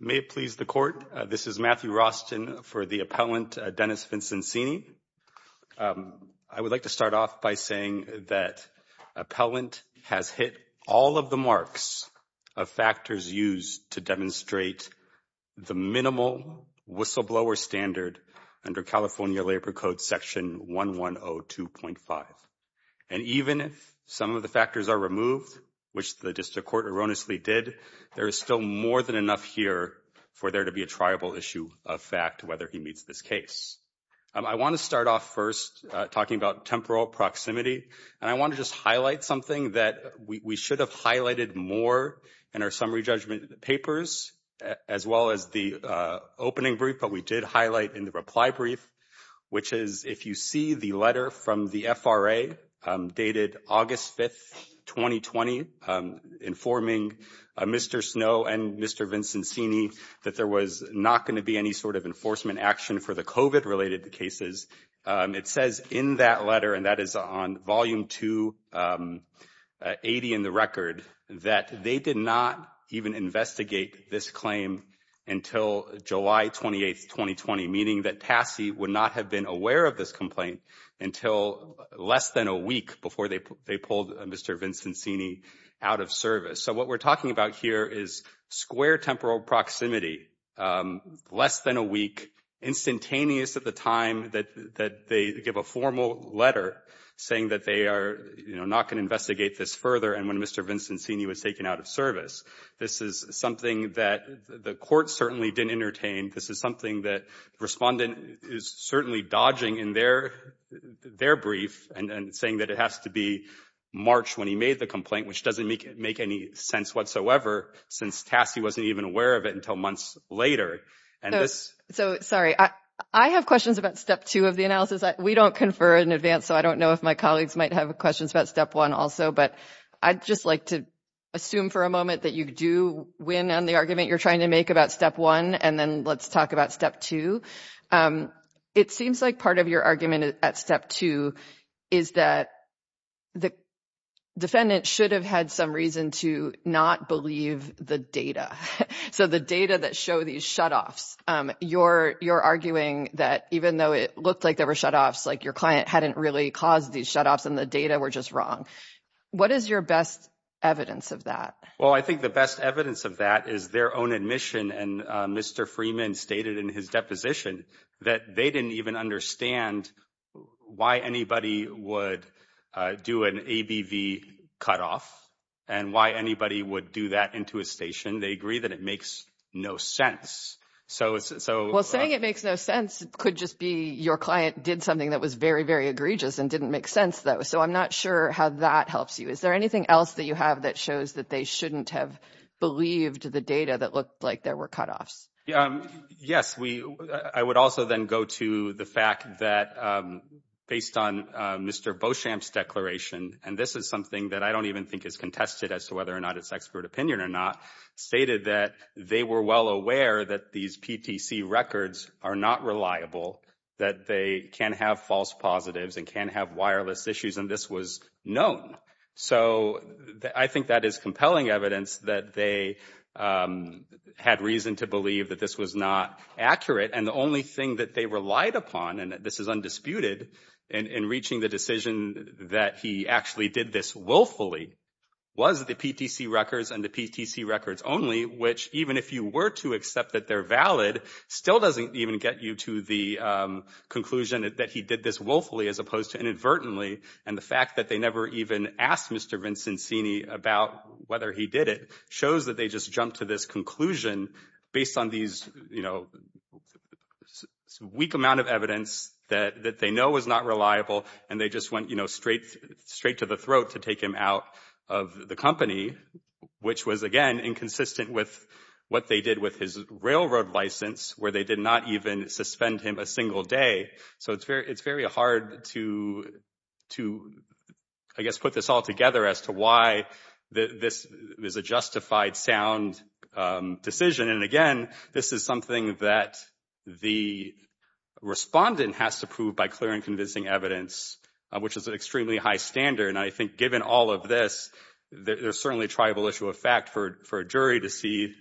May it please the court, this is Matthew Rostin for the appellant Dennis Vincenzini. I would like to start off by saying that appellant has hit all of the marks of factors used to demonstrate the minimal whistleblower standard under California Labor Code section 1102.5. And even if some of the factors are removed, which the district court erroneously did, there is still more than enough here for there to be a triable issue of fact whether he meets this case. I want to start off first talking about temporal proximity, and I want to just highlight something that we should have highlighted more in our summary judgment papers as well as the opening brief, but we did highlight in the reply brief, which is if you see the letter from the FRA dated August 5, 2020, informing Mr. Snow and Mr. Vincenzini that there was not going to be any sort of enforcement action for the COVID-related cases. It says in that letter, and that is on volume 280 in the record, that they did not even investigate this claim until July 28, 2020, meaning that TASI would not have been aware of this complaint until less than a week before they pulled Mr. Vincenzini out of service. So what we're talking about here is square temporal proximity, less than a week, instantaneous at the time that they give a formal letter saying that they are, you know, not going to investigate this further, and when Mr. Vincenzini was taken out of service. This is something that the court certainly didn't entertain. This is something that respondent is certainly dodging in their brief and saying that it has to be March when he made the complaint, which doesn't make any sense whatsoever, since TASI wasn't even aware of it until months later. So, sorry, I have questions about step two of the analysis. We don't confer in advance, so I don't know if my colleagues might have questions about step one also, but I'd just like to assume for a moment that you do win on the argument you're trying to make about step one, and then let's talk about step two. It seems like part of your argument at step two is that the defendant should have had some reason to not believe the data. So the data that show these shutoffs, you're arguing that even though it looked like there were shutoffs, like your client hadn't really caused these shutoffs and the data were just wrong. What is your best evidence of that? Well, I think the best evidence of that is their own admission, and Mr. Freeman stated in his deposition that they didn't even understand why anybody would do an ABV cutoff, and why anybody would do that into a station. They agree that it makes no sense. Well, saying it makes no sense could just be your client did something that was very, very egregious and didn't make sense though, so I'm not sure how that helps you. Is there anything else that you have that shows that they shouldn't have believed the data that looked like there were cutoffs? Yes, I would also then go to the fact that based on Mr. Beauchamp's declaration, and this is something that I don't even think is contested as to whether or not it's expert opinion or not, stated that they were well aware that these PTC records are not reliable, that they can have false positives, and can have wireless issues, and this was known. So I think that is compelling evidence that they had reason to believe that this was not accurate, and the only thing that they relied upon, and this is undisputed in reaching the decision that he actually did this willfully, was the PTC records and the PTC records only, which even if you were to accept that they're valid, still doesn't even get you to the conclusion that he did this willfully as opposed to inadvertently, and the fact that they never even asked Mr. Vincenzini about whether he did it, shows that they just jumped to this conclusion based on these, you know, weak amount of evidence that they know was not reliable, and they just went, you know, straight to the throat to take him out of the company, which was, again, inconsistent with what they did with his railroad license, where they did not even suspend him a single day. So it's very hard to, I guess, put this all together as to why this is a justified, sound decision, and again, this is something that the respondent has to prove by clear and convincing evidence, which is an extremely high standard, and I think given all of this, there's certainly a triable issue of fact for a jury to see,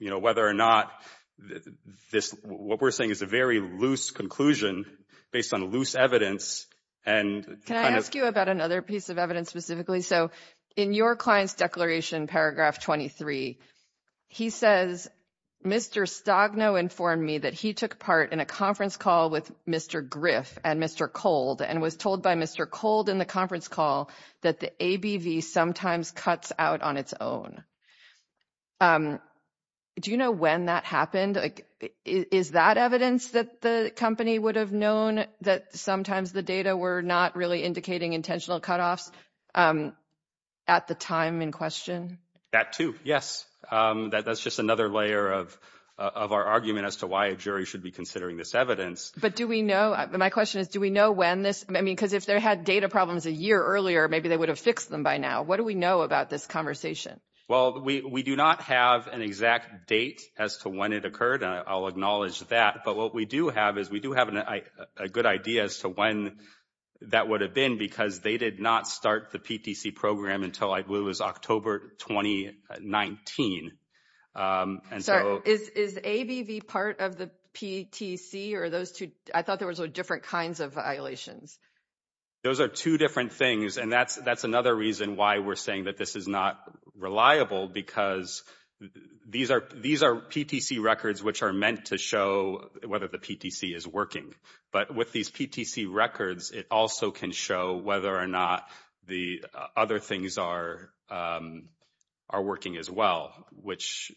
you know, whether or not this, what we're saying is a very loose conclusion based on loose evidence, and Can I ask you about another piece of evidence specifically? So in your client's declaration, paragraph 23, he says, Mr. Stogno informed me that he took part in a conference call with Mr. Griff and Mr. Cold, and was told by Mr. Cold in the conference call that the ABV sometimes cuts out on its own. Do you know when that happened? Like, is that evidence that the company would have known that sometimes the data were not really indicating intentional cutoffs at the time in question? That too, yes. That's just another layer of our argument as to why a jury should be considering this evidence. But do we know, my question is, do we know when this, I mean, because if they had data problems a year earlier, maybe they would have fixed them by now. What do we know about this conversation? Well, we do not have an exact date as to when it occurred. I'll acknowledge that, but what we do have is, we do have a good idea as to when that would have been, because they did not start the program until, I believe it was October 2019. Sorry, is ABV part of the PTC, or those two, I thought there were different kinds of violations. Those are two different things, and that's another reason why we're saying that this is not reliable, because these are PTC records which are meant to show whether the PTC is working. But with these PTC records, it also can show whether or not the other things are working as well, which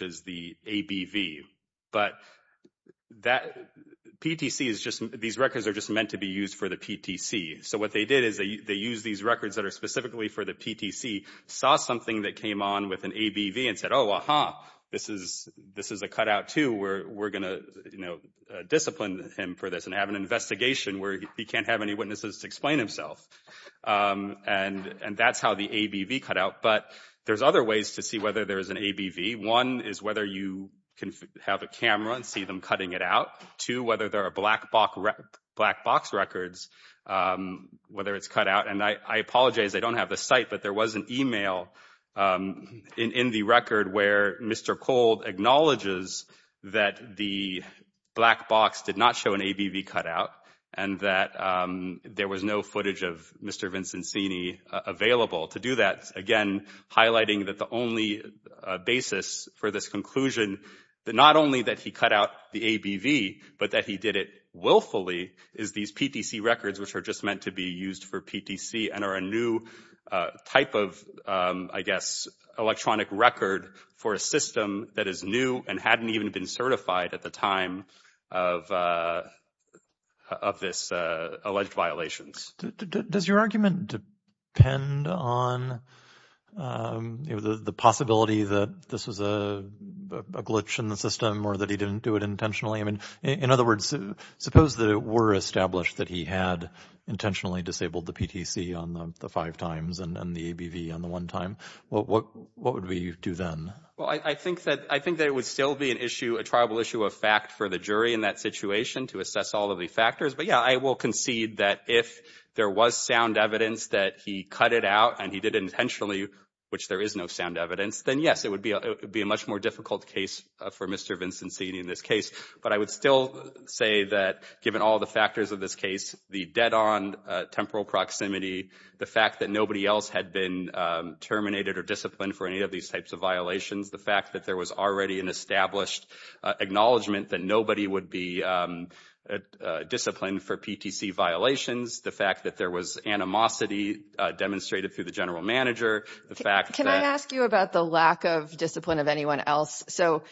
is the ABV. But that PTC is just, these records are just meant to be used for the PTC. So what they did is, they used these records that are specifically for the PTC, saw something that came on with an ABV, and said, oh, aha, this is a cutout too. We're going to, you know, discipline him for this, and have an investigation where he can't have any and that's how the ABV cutout. But there's other ways to see whether there's an ABV. One is whether you can have a camera and see them cutting it out. Two, whether there are black box records, whether it's cut out. And I apologize, I don't have the site, but there was an email in the record where Mr. Cold acknowledges that the black box did not show an ABV cutout, and that there was no footage of Mr. Vincenzini available to do that. Again, highlighting that the only basis for this conclusion, that not only that he cut out the ABV, but that he did it willfully, is these PTC records, which are just meant to be used for PTC and are a new type of, I guess, electronic record for a system that is new and hadn't even been certified at the of this alleged violations. Does your argument depend on, you know, the possibility that this was a glitch in the system or that he didn't do it intentionally? I mean, in other words, suppose that it were established that he had intentionally disabled the PTC on the five times and the ABV on the one time, what would we do then? Well, I think that it would still be an attributable issue of fact for the jury in that situation to assess all of the factors. But yeah, I will concede that if there was sound evidence that he cut it out and he did it intentionally, which there is no sound evidence, then yes, it would be a much more difficult case for Mr. Vincenzini in this case. But I would still say that given all the factors of this case, the dead-on temporal proximity, the fact that nobody else had been terminated or disciplined for any of these types of violations, the fact that there was already an established acknowledgement that nobody would be disciplined for PTC violations, the fact that there was animosity demonstrated through the general manager, the fact that... Can I ask you about the lack of discipline of anyone else? So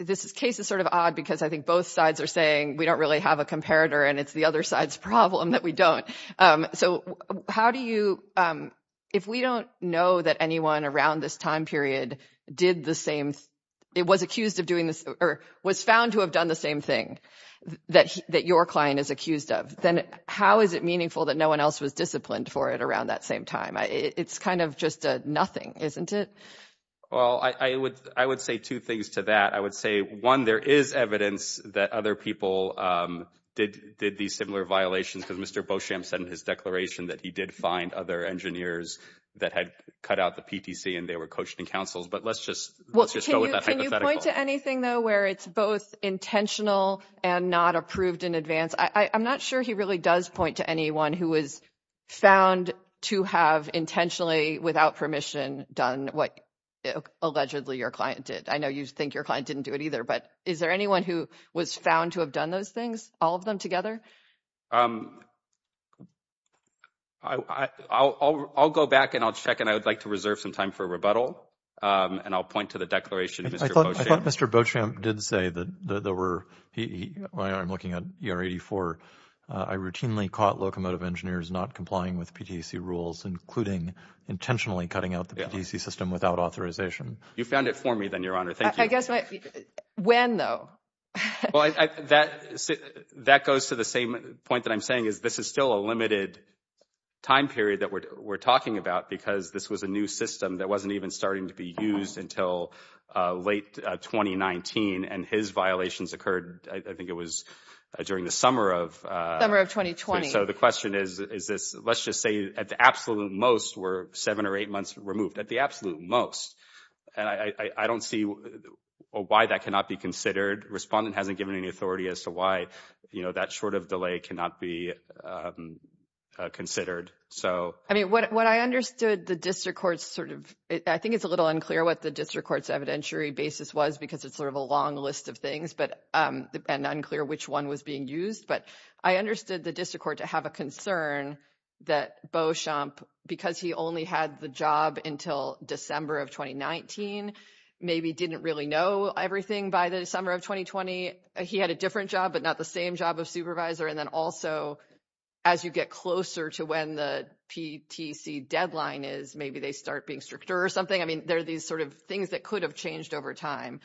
this case is sort of odd because I think both sides are saying we don't really have a comparator and it's the other side's problem that we don't. So how do you... If we don't know that anyone around this time period did the same... Was found to have done the same thing that your client is accused of, then how is it meaningful that no one else was disciplined for it around that same time? It's kind of just a nothing, isn't it? Well, I would say two things to that. I would say, one, there is evidence that other people did these similar violations because Mr. Beauchamp said in his declaration that he did find other engineers that had cut out the PTC and they were coached in councils. But let's just go with that hypothetical. Can you point to anything though where it's both intentional and not approved in advance? I'm not sure he really does point to anyone who was found to have intentionally, without permission, done what allegedly your client did. I know you think your client didn't do it either, but is there anyone who was found to have done those things, all of them together? I'll go back and I'll check and I would like to reserve some time for rebuttal and I'll point to the declaration. I thought Mr. Beauchamp did say that there were... I'm looking at ER 84. I routinely caught locomotive engineers not complying with PTC rules, including intentionally cutting out the PTC system without authorization. You found it for me then, Your Honor. Thank you. I guess, when though? Well, that goes to the same point that I'm saying is this is still a limited time period that we're talking about because this was a new system that wasn't even starting to be used until late 2019 and his violations occurred, I think it was during the summer of... Summer of 2020. So the question is, let's just say at the absolute most were seven or eight months removed. At the most. And I don't see why that cannot be considered. Respondent hasn't given any authority as to why that sort of delay cannot be considered. So... I mean, what I understood the district court's sort of... I think it's a little unclear what the district court's evidentiary basis was because it's sort of a long list of things and unclear which one was being used. But I understood the district court to have a concern that Beauchamp, because he only had the job until December of 2019, maybe didn't really know everything by the summer of 2020. He had a different job, but not the same job of supervisor. And then also, as you get closer to when the PTC deadline is, maybe they start being stricter or something. I mean, there are these sort of things that could have changed over time.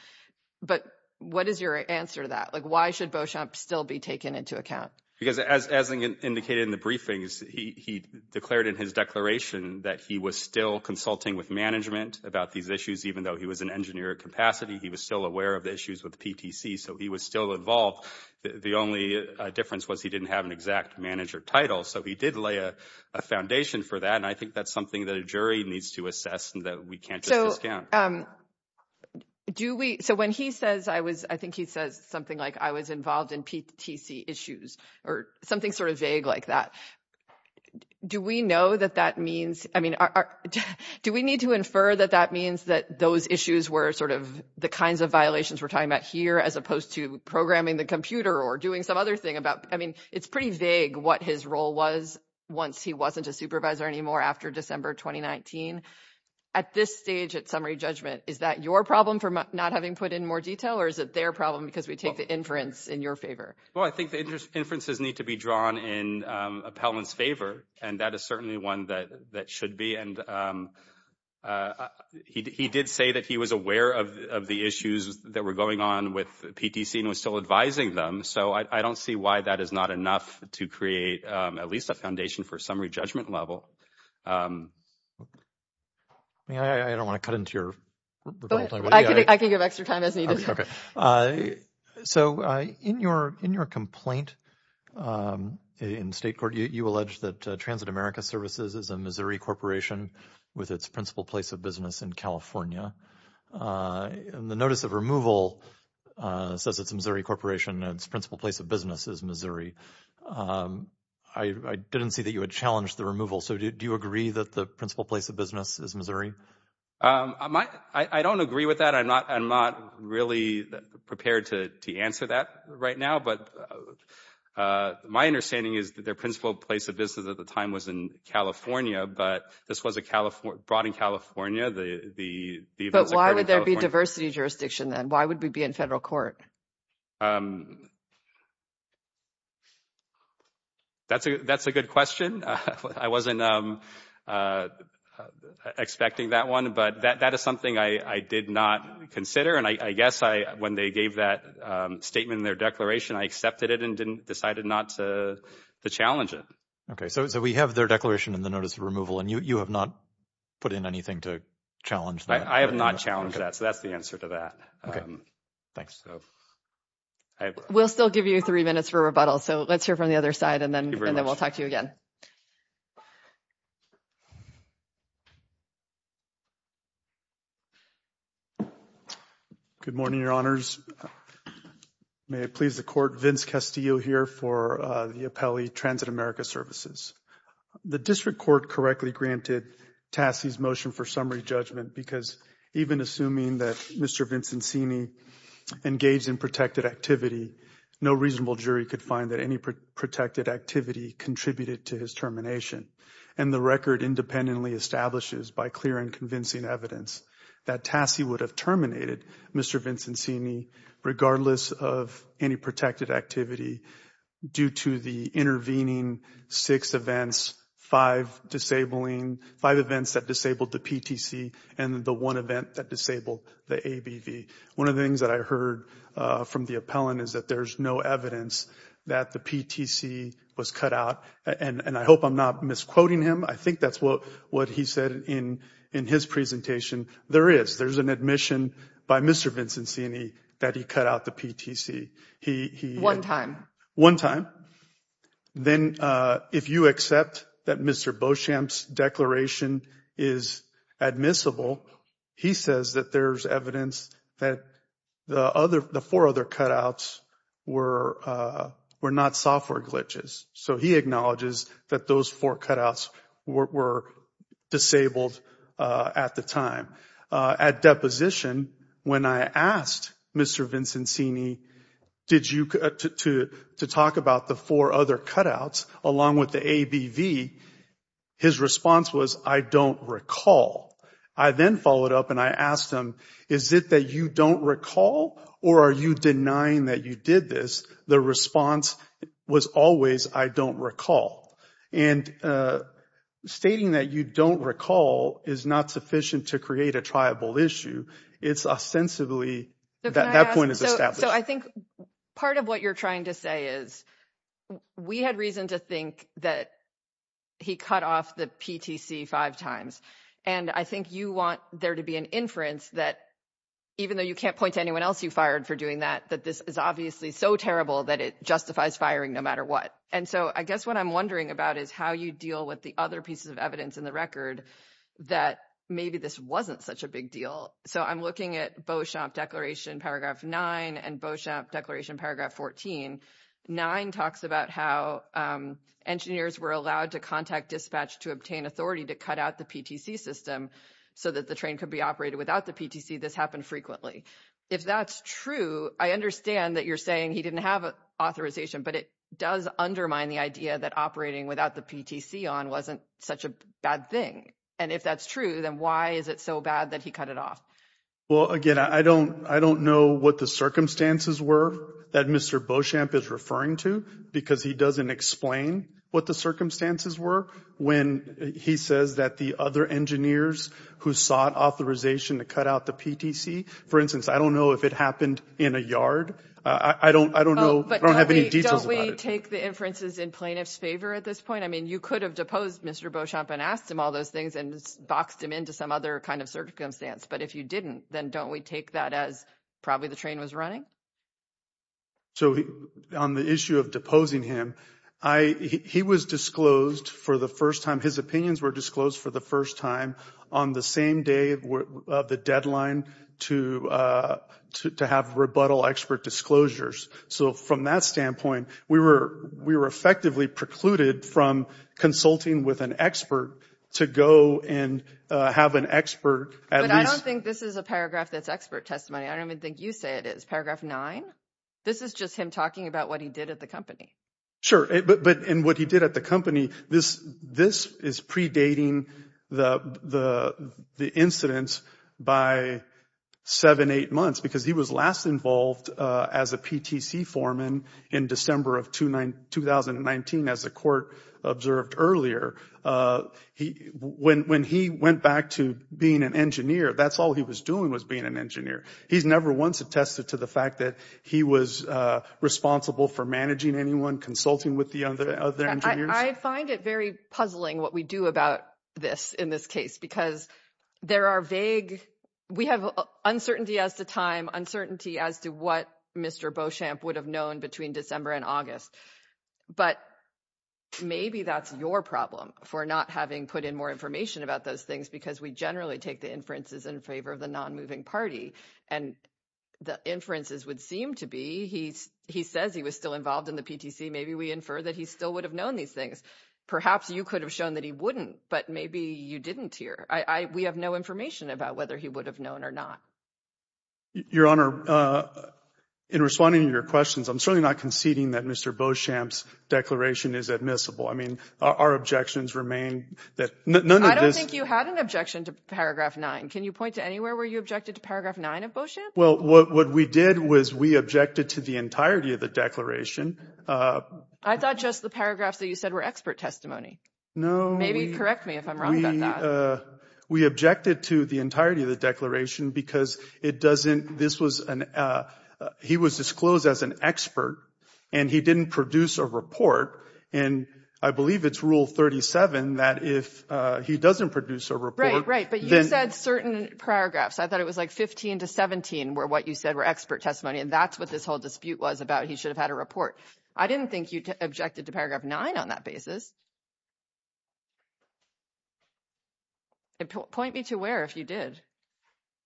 But what is your answer to that? Why should Beauchamp still be taken into account? Because as indicated in the briefings, he declared in his declaration that he was still consulting with management about these issues, even though he was in engineering capacity. He was still aware of the issues with PTC. So he was still involved. The only difference was he didn't have an exact manager title. So he did lay a foundation for that. And I think that's something that a jury needs to assess and that we can't just discount. So when he says, I was, I think he says something like, I was involved in PTC issues or something sort of vague like that. Do we know that that means, I mean, do we need to infer that that means that those issues were sort of the kinds of violations we're talking about here, as opposed to programming the computer or doing some other thing about, I mean, it's pretty vague what his role was once he wasn't a supervisor anymore after December 2019. At this stage, at summary judgment, is that your problem for not having put in more detail, or is it their problem because we take the inference in your favor? Well, I think the inferences need to be drawn in Appellant's favor. And that is certainly one that that should be. And he did say that he was aware of the issues that were going on with PTC and was still advising them. So I don't see why that is not enough to create at least a foundation for a summary judgment level. I mean, I don't want to cut into your. I can give extra time as needed. Okay. So in your complaint in state court, you allege that Transit America Services is a Missouri corporation with its principal place of business in California. And the notice of removal says it's a Missouri corporation, its principal place of business is Missouri. I didn't see that you had challenged the removal. So do you agree that the principal place of business is Missouri? I don't agree with that. I'm not really prepared to answer that right now. But my understanding is that their principal place of business at the time was in California, but this was brought in California. But why would there be diversity jurisdiction then? Why would we be in federal court? That's a good question. I wasn't expecting that one, but that is something I did not consider. And I guess when they gave that statement in their declaration, I accepted it and decided not to challenge it. Okay. So we have their declaration in the notice of removal and you have not put in anything to challenge that. I have not challenged that. So that's the answer to that. We'll still give you three minutes for rebuttal, so let's hear from the other side and then we'll talk to you again. Good morning, Your Honors. May it please the Court, Vince Castillo here for the Appellee Transit America Services. The district court correctly granted Tassie's motion for summary judgment because even assuming that Mr. Vincenzini engaged in protected activity, no reasonable jury could find that any protected activity contributed to his termination. And the record independently establishes by clear and convincing evidence that Tassie would have terminated Mr. Vincenzini regardless of any protected activity due to the intervening six events, five events that disabled the PTC and the one event that disabled the ABV. One of the things that I heard from the appellant is that there's no evidence that the PTC was cut out. And I hope I'm not misquoting him. I think that's what he said in his presentation. There is. There's an admission by Mr. Vincenzini that he cut out the PTC. One time. One time. Then if you accept that Mr. Beauchamp's declaration is admissible, he says that there's evidence that the four other cutouts were not software glitches. So he acknowledges that those four cutouts were disabled at the time. At deposition, when I asked Mr. Vincenzini to talk about the four other cutouts along with the ABV, his response was, I don't recall. I then followed up and I asked him, is it that you don't recall or are you denying that you did this? The response was always, I don't recall. And stating that you don't recall is not sufficient to create a triable issue. It's ostensibly that that point is established. So I think part of what you're trying to say is we had reason to think that he cut off the PTC five times. And I think you want there to be an inference that even though you can't point to anyone else you fired for doing that, that this is obviously so terrible that it justifies firing no matter what. And so I guess what I'm wondering about is how you deal with the other pieces of evidence in the record that maybe this wasn't such a big deal. So I'm looking at Beauchamp Declaration Paragraph 9 and Beauchamp Declaration Paragraph 14. 9 talks about how engineers were allowed to contact dispatch to obtain authority to cut out the PTC system so that the train could be operated without the PTC. This happened frequently. If that's true, I understand that you're saying he didn't have authorization, but it does undermine the idea that operating without the PTC on wasn't such a bad thing. And if that's true, then why is it so bad that he cut it off? Well, again, I don't know what the circumstances were that Mr. Beauchamp is referring to because he doesn't explain what the circumstances were when he says that the other engineers who sought authorization to cut out the PTC, for instance, I don't know if it happened in a yard. I don't know. I don't have any details. Take the inferences in plaintiff's favor at this point. I mean, you could have deposed Mr. Beauchamp and asked him all those things and boxed him into some other kind of circumstance. But if you didn't, then don't we take that as probably the train was running. So on the issue of deposing him, I he was disclosed for the first time, his opinions were disclosed for the first time on the same day of the deadline to to have rebuttal expert disclosures. So from that standpoint, we were we were effectively precluded from consulting with an expert to go and have an expert. And I don't think this is a paragraph that's expert testimony. I don't even think you say it is paragraph nine. This is just him talking about what he did at the company. Sure. But in what he did at the company, this this is predating the the the incidents by seven, eight months, because he was last involved as a PTC foreman in December of 2009, 2019. As the court observed earlier, he when when he went back to being an engineer, that's all he was doing was being an engineer. He's never once attested to the fact that he was responsible for managing anyone consulting with the other. I find it very puzzling what we do about this in this case, because there are vague. We have uncertainty as to time uncertainty as to what Mr. Beauchamp would have known between December and August. But maybe that's your problem for not having put in more information about those things, because we generally take the inferences in favor of the non moving party. And the inferences would seem to be he's he says he was still involved in the PTC. Maybe we infer that he still would have known these things. Perhaps you could have shown that he wouldn't. But maybe you didn't hear. I we have no information about whether he would have known or not. Your Honor, in responding to your questions, I'm certainly not conceding that Mr. Beauchamp's declaration is admissible. I mean, our objections remain that none of this. I don't think you had an objection to paragraph nine. Can you point to anywhere where you objected to paragraph nine of Beauchamp? Well, what we did was we objected to the entirety of the declaration. I thought just the paragraphs that you said were expert testimony. No, maybe correct me if I'm wrong. We objected to the entirety of the declaration because it doesn't this was an he was disclosed as an expert and he didn't produce a report. And I believe it's rule 37 that if he doesn't produce a report. Right. But you said certain paragraphs. I thought it was like 15 to 17 where what you said were expert testimony. And that's what this whole dispute was about. He should have had a report. I didn't think you objected to paragraph nine on that basis. Point me to where if you did.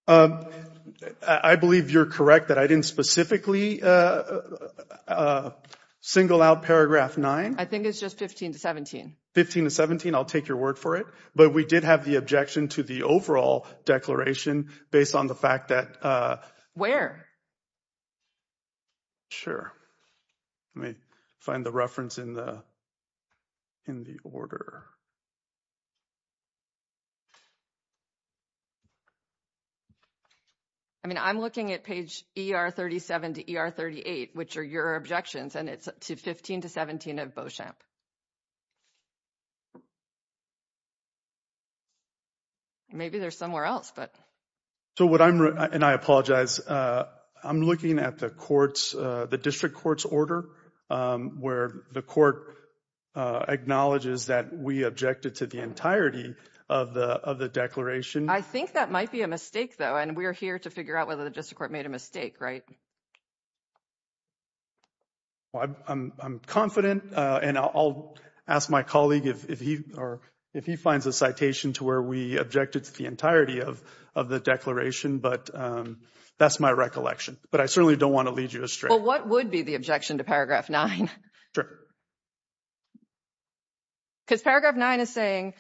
I believe you're correct that I didn't specifically single out paragraph nine. I think it's just 15 to 17. 15 to 17. I'll take your word for it. But we did have the objection to the overall declaration based on the fact that. Where? Sure. Let me find the reference in the in the order. I mean, I'm looking at page ER 37 to ER 38, which are your objections. And it's 15 to 17 of Beauchamp. Maybe there's somewhere else, but. So what I'm and I apologize. I'm looking at the courts, the district court's order where the court acknowledges that we objected to the entirety of the of the declaration. I think that might be a mistake, though. And we're here to figure out whether the district court made a mistake. Right. I'm confident and I'll ask my colleague if he or if he finds a citation to where we objected to the entirety of of the declaration. But that's my recollection. But I certainly don't want to lead you astray. What would be the objection to paragraph nine? Sure. Because paragraph nine is saying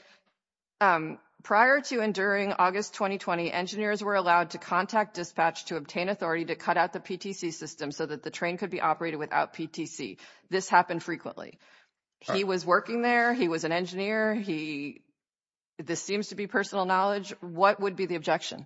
prior to and during August 2020, engineers were allowed to contact dispatch to obtain authority to cut out the PTC system so that the train could be operated without PTC. This happened frequently. He was working there. He was an engineer. He this seems to be personal knowledge. What would be the objection?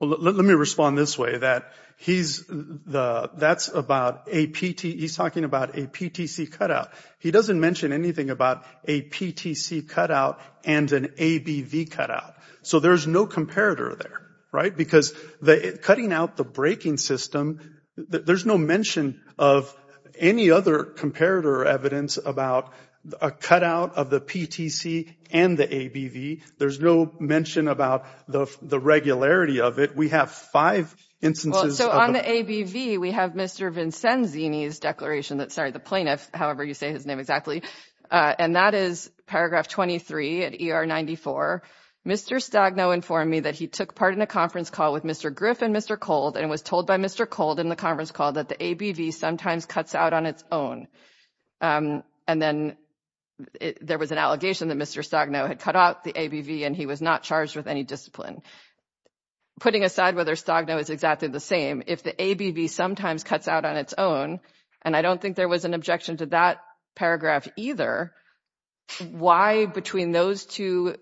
Let me respond this way that he's the that's about a PT. He's talking about a PTC cut out. He doesn't mention anything about a PTC cut out and an ABV cut out. So there's no comparator there. Right. Because the cutting out the braking system, there's no mention of any other comparator evidence about a cut out of the PTC and the ABV. There's no mention about the regularity of it. We have five instances. So on the ABV, we have Mr. Vincenzini's declaration that started the plaintiff. However, you say his name exactly. And that is paragraph 23 at ER 94. Mr. Stagno informed me that he took part in a conference call with Mr. Griff and Mr. Cold and was told by Mr. Cold in the conference call that the ABV sometimes cuts out on its own. And then there was an allegation that Mr. Stagno had cut out the ABV and he was not charged with any discipline. Putting aside whether Stagno is exactly the same, if the ABV sometimes cuts out on its own, and I don't think there was an objection to that paragraph either, why between those two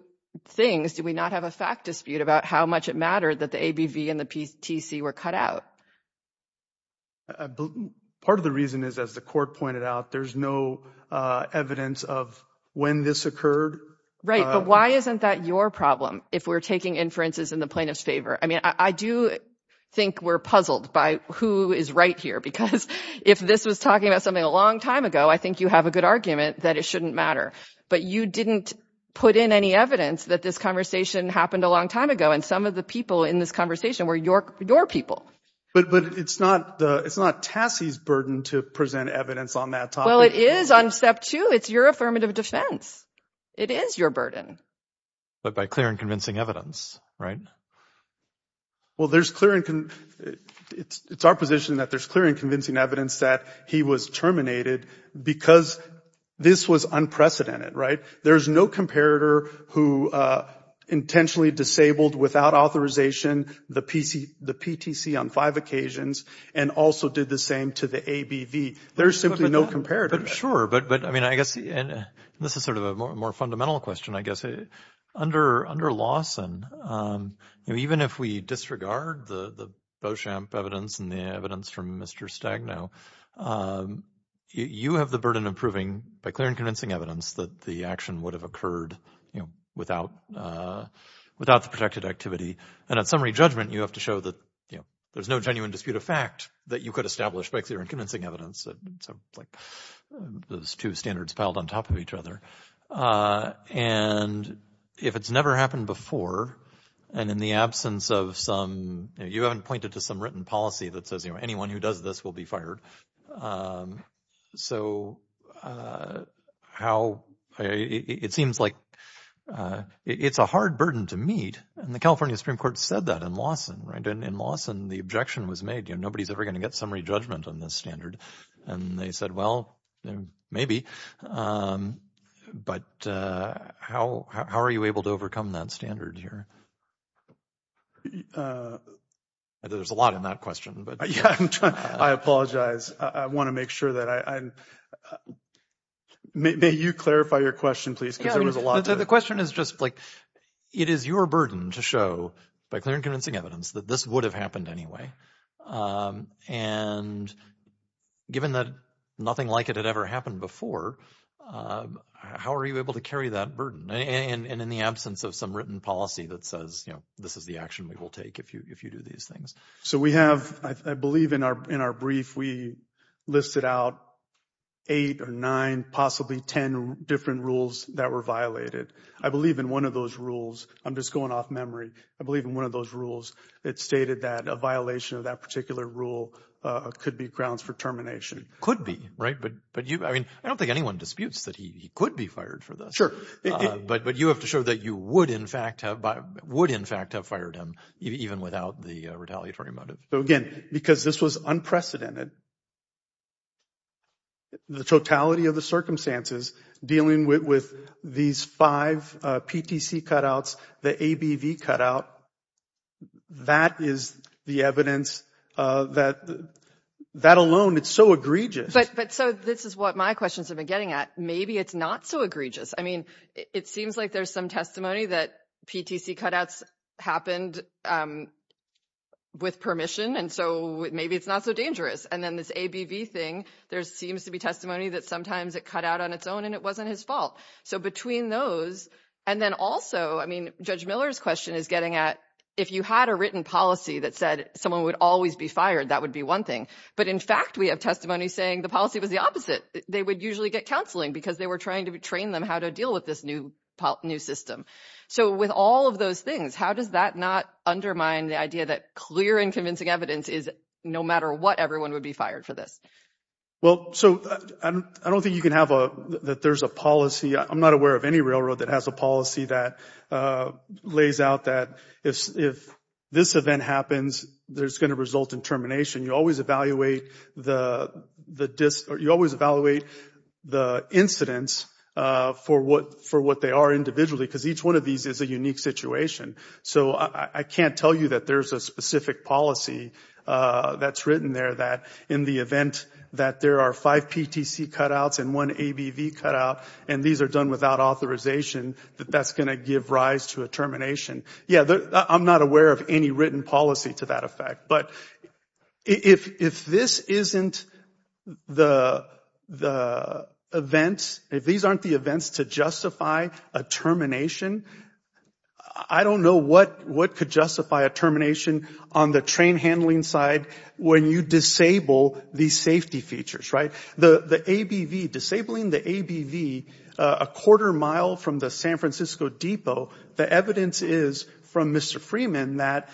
things do we not have a fact dispute about how much it mattered that the ABV and the PTC were cut out? Part of the reason is, as the court pointed out, there's no evidence of when this occurred. Right. But why isn't that your problem if we're taking inferences in the plaintiff's favor? I mean, I do think we're puzzled by who is right here, because if this was talking about something a long time ago, I think you have a good argument that it shouldn't matter. But you didn't put in any evidence that this conversation happened a long time ago. And some of the people in this conversation were your people. But it's not Tassie's burden to present evidence on that topic. Well, it is on step two. It's your affirmative defense. It is your burden. But by clear and convincing evidence, right? Well, there's clear and it's our position that there's clear and convincing evidence that he was terminated because this was unprecedented, right? There's no comparator who intentionally disabled without authorization the PTC on five occasions and also did the same to the ABV. There's simply no comparator. Sure. But I mean, I guess this is sort of a more fundamental question, I guess. Under Lawson, even if we disregard the Beauchamp evidence and the Mr. Stagno, you have the burden of proving by clear and convincing evidence that the action would have occurred without the protected activity. And at summary judgment, you have to show that there's no genuine dispute of fact that you could establish by clear and convincing evidence. Those two standards piled on top of each other. And if it's never happened before, and in the absence of some you haven't pointed to some written policy that says anyone who does this will be fired. So how it seems like it's a hard burden to meet. And the California Supreme Court said that in Lawson, right? And in Lawson, the objection was made. Nobody's ever going to get summary judgment on this standard. And they said, well, maybe. But how are you able to overcome that standard here? There's a lot in that question, but I apologize. I want to make sure that I may you clarify your question, please, because there was a lot. The question is just like it is your burden to show by clear and convincing evidence that this would have happened anyway. And given that nothing like it had ever happened before, how are you able to carry that burden? And in the absence of some written policy that says, you know, this is the action we will take if you if you do these things. So we have, I believe, in our in our brief, we listed out eight or nine, possibly 10 different rules that were violated. I believe in one of those rules. I'm just going off memory. I believe in one of those rules. It stated that a violation of that particular rule could be grounds for termination. Could be right. But but I mean, I don't think but but you have to show that you would, in fact, have would, in fact, have fired him even without the retaliatory motive. So again, because this was unprecedented. The totality of the circumstances dealing with these five PTC cutouts, the ABV cutout, that is the evidence that that alone, it's so egregious. But so this is what my questions have been getting at. Maybe it's not so egregious. I mean, it seems like there's some testimony that PTC cutouts happened with permission. And so maybe it's not so dangerous. And then this ABV thing, there seems to be testimony that sometimes it cut out on its own and it wasn't his fault. So between those and then also, I mean, Judge Miller's question is getting at if you had a written policy that said someone would always be fired, that would be one thing. But in fact, we have testimony saying the policy was the opposite. They would usually get counseling because they were trying to train them how to deal with this new new system. So with all of those things, how does that not undermine the idea that clear and convincing evidence is no matter what, everyone would be fired for this? Well, so I don't think you can have a that there's a policy. I'm not aware of any railroad that has a policy that lays out that if this event happens, there's going to result in termination. You always evaluate the incidents for what they are individually because each one of these is a unique situation. So I can't tell you that there's a specific policy that's written there that in the event that there are five PTC cutouts and one ABV cutout and these are done without authorization, that that's going to give rise to a termination. Yeah, I'm not aware of any written policy to that effect, but if this isn't the the events, if these aren't the events to justify a termination, I don't know what could justify a termination on the train handling side when you disable these safety features, right? The ABV, disabling the ABV a quarter mile from the San Francisco depot, the evidence is from Mr. Freeman that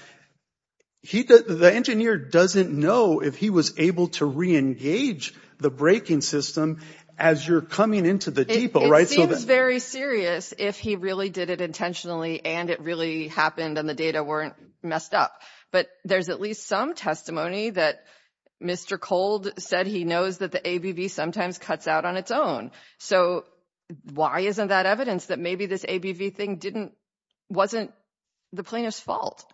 the engineer doesn't know if he was able to re-engage the braking system as you're coming into the depot, right? It seems very serious if he really did it intentionally and it really happened and the data weren't messed up, but there's at least some testimony that Mr. Cold said he knows that the ABV sometimes cuts out on its own. So why isn't that evidence that maybe this ABV thing wasn't the plaintiff's fault?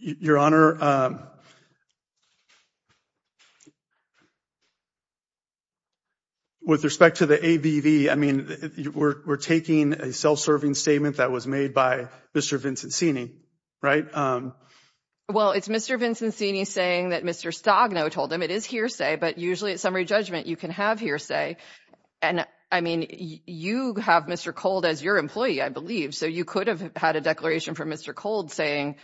Your Honor, with respect to the ABV, I mean we're taking a self-serving statement that was made by Mr. Vincenzini, right? Well, it's Mr. Vincenzini saying that Mr. Stogno told him it is hearsay, but usually at summary judgment you can have hearsay and I mean you have Mr. Cold as your employee, I believe, so you could have had a declaration from Mr. Cold saying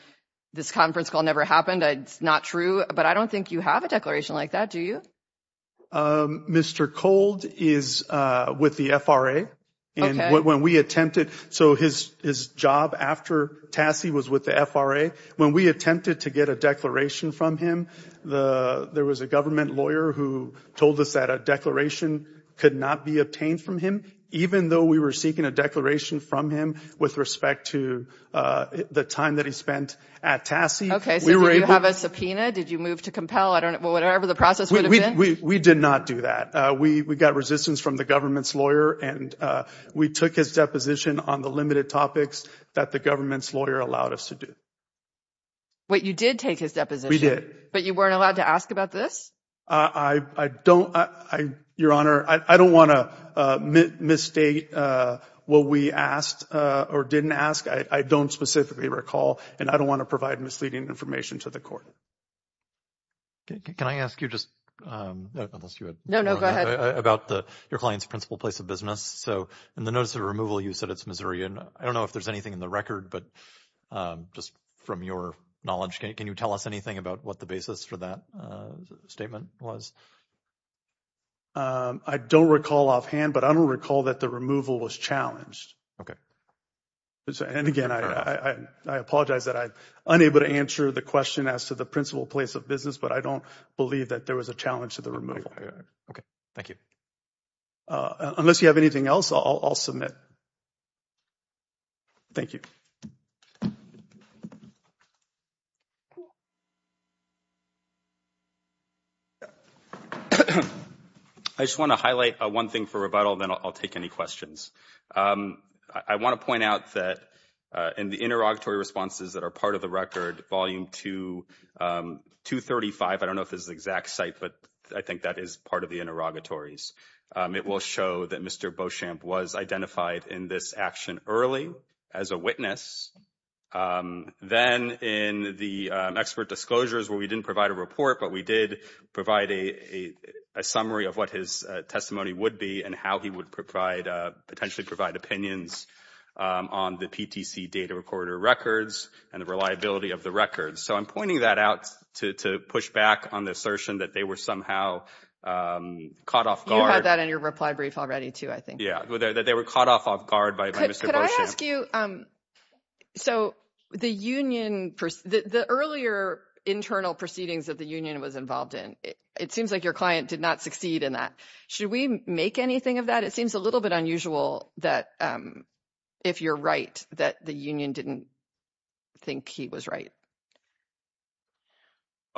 this conference call never happened, it's not true, but I don't think you have a declaration like that, do you? Mr. Cold is with the FRA and when we attempted, so his job after TASI was with the FRA, when we attempted to get a declaration from him, there was a government lawyer who told us that a declaration could not be obtained from him, even though we were seeking a declaration from him with respect to the time that he spent at TASI. Okay, so did you have a subpoena? Did you move to compel, I don't know, whatever the process would have been? We did not do that. We got resistance from the government's lawyer and we took his deposition on the limited topics that the government's lawyer allowed us to do. Wait, you did take his deposition? We did. But you weren't allowed to ask about this? I don't, Your Honor, I don't want to misstate what we asked or didn't ask. I don't specifically recall and I don't want to provide misleading information to the court. Can I ask you just about your client's principal place of business? So in the notice of removal, you said it's Missouri and I don't know if there's anything in the record, but just from your knowledge, can you tell us anything about what the basis for that statement was? I don't recall offhand, but I don't recall that the removal was challenged. Okay. And again, I apologize that I'm unable to answer the question as to the principal place of business, but I don't believe that there was a challenge to the removal. Okay, thank you. Unless you have anything else, I'll submit. Thank you. I just want to highlight one thing for rebuttal, then I'll take any questions. I want to point out that in the interrogatory responses that are part of the record, volume 235, I don't know if this is the exact site, but I think that is part of the interrogatories. It will show that Mr. Beauchamp was identified in this action early as a witness. Then in the expert disclosures where we didn't provide a report, but we did provide a summary of what his testimony would be and how he would potentially provide opinions on the PTC data recorder records and the reliability of the records. So I'm pointing that out to push back on the assertion that they were somehow caught off guard. You had that in your reply brief already too, I think. Yeah, that they were caught off guard by Mr. Beauchamp. Could I ask you, so the earlier internal proceedings that the union was involved in, it seems like your client did not succeed in that. Should we make anything of that? It seems a little bit unusual that if you're right, that the union didn't think he was right.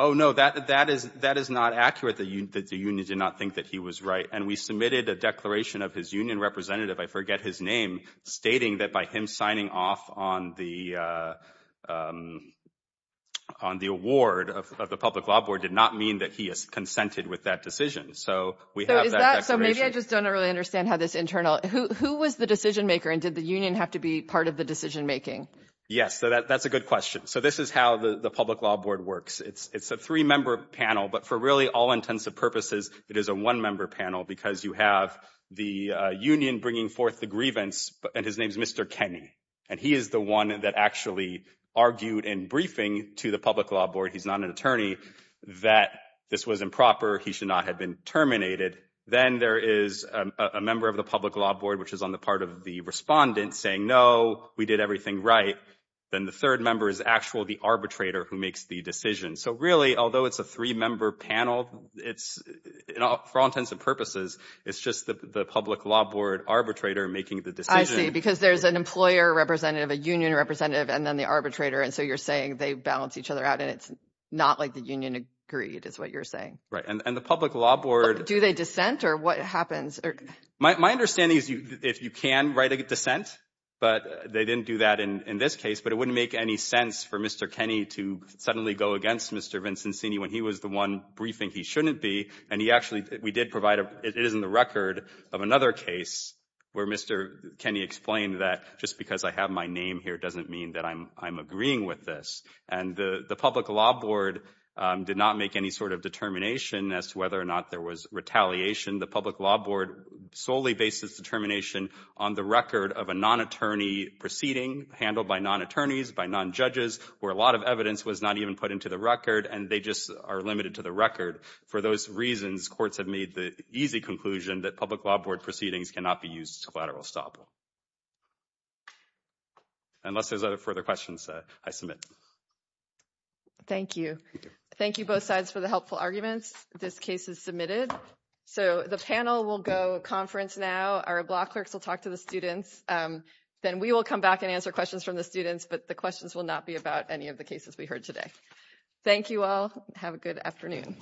Oh no, that is not accurate that the union did not think that he was right. And we submitted a declaration of his union representative, I forget his name, stating that by him signing off on the award of the public law board did not mean that he has consented with that decision. So we have that declaration. So maybe I just don't really understand how this internal, who was the decision maker and did the union have to be part of the decision making? Yes, so that's a good question. So this is how the public law board works. It's a three member panel, but for really all intents and purposes, it is a one member panel because you have the union bringing forth the grievance and his name is Mr. Kenny. And he is the one that actually argued in briefing to the public law board, he's not an attorney, that this was improper. He should not have been terminated. Then there is a member of the public law board, which is on the part of the respondent saying, no, we did everything right. Then the third member is actually the arbitrator who makes the decision. So really, although it's a three member panel, it's for all intents and purposes, it's just the public law board arbitrator making the decision. I see, because there's an employer representative, a union representative, and then the arbitrator. And so you're saying they balance each other out and it's not like the union agreed is what you're saying. Right. And the public law board. Do they dissent or what happens? My understanding is if you can write a dissent, but they didn't do that in this case, it wouldn't make any sense for Mr. Kenny to suddenly go against Mr. Vincenzini when he was the one briefing he shouldn't be. And he actually, we did provide, it is in the record of another case where Mr. Kenny explained that just because I have my name here doesn't mean that I'm agreeing with this. And the public law board did not make any sort of determination as to whether or not there was retaliation. The public law board solely based its determination on the record of a non-attorney proceeding handled by non-attorneys, by non-judges, where a lot of evidence was not even put into the record and they just are limited to the record. For those reasons, courts have made the easy conclusion that public law board proceedings cannot be used to collateral estoppel. Unless there's other further questions, I submit. Thank you. Thank you both sides for the helpful arguments. This case is submitted. So the panel will go conference now. Our law clerks will talk to the students. Then we will come back and answer questions from the students, but the questions will not be about any of the cases we heard today. Thank you all. Have a good afternoon.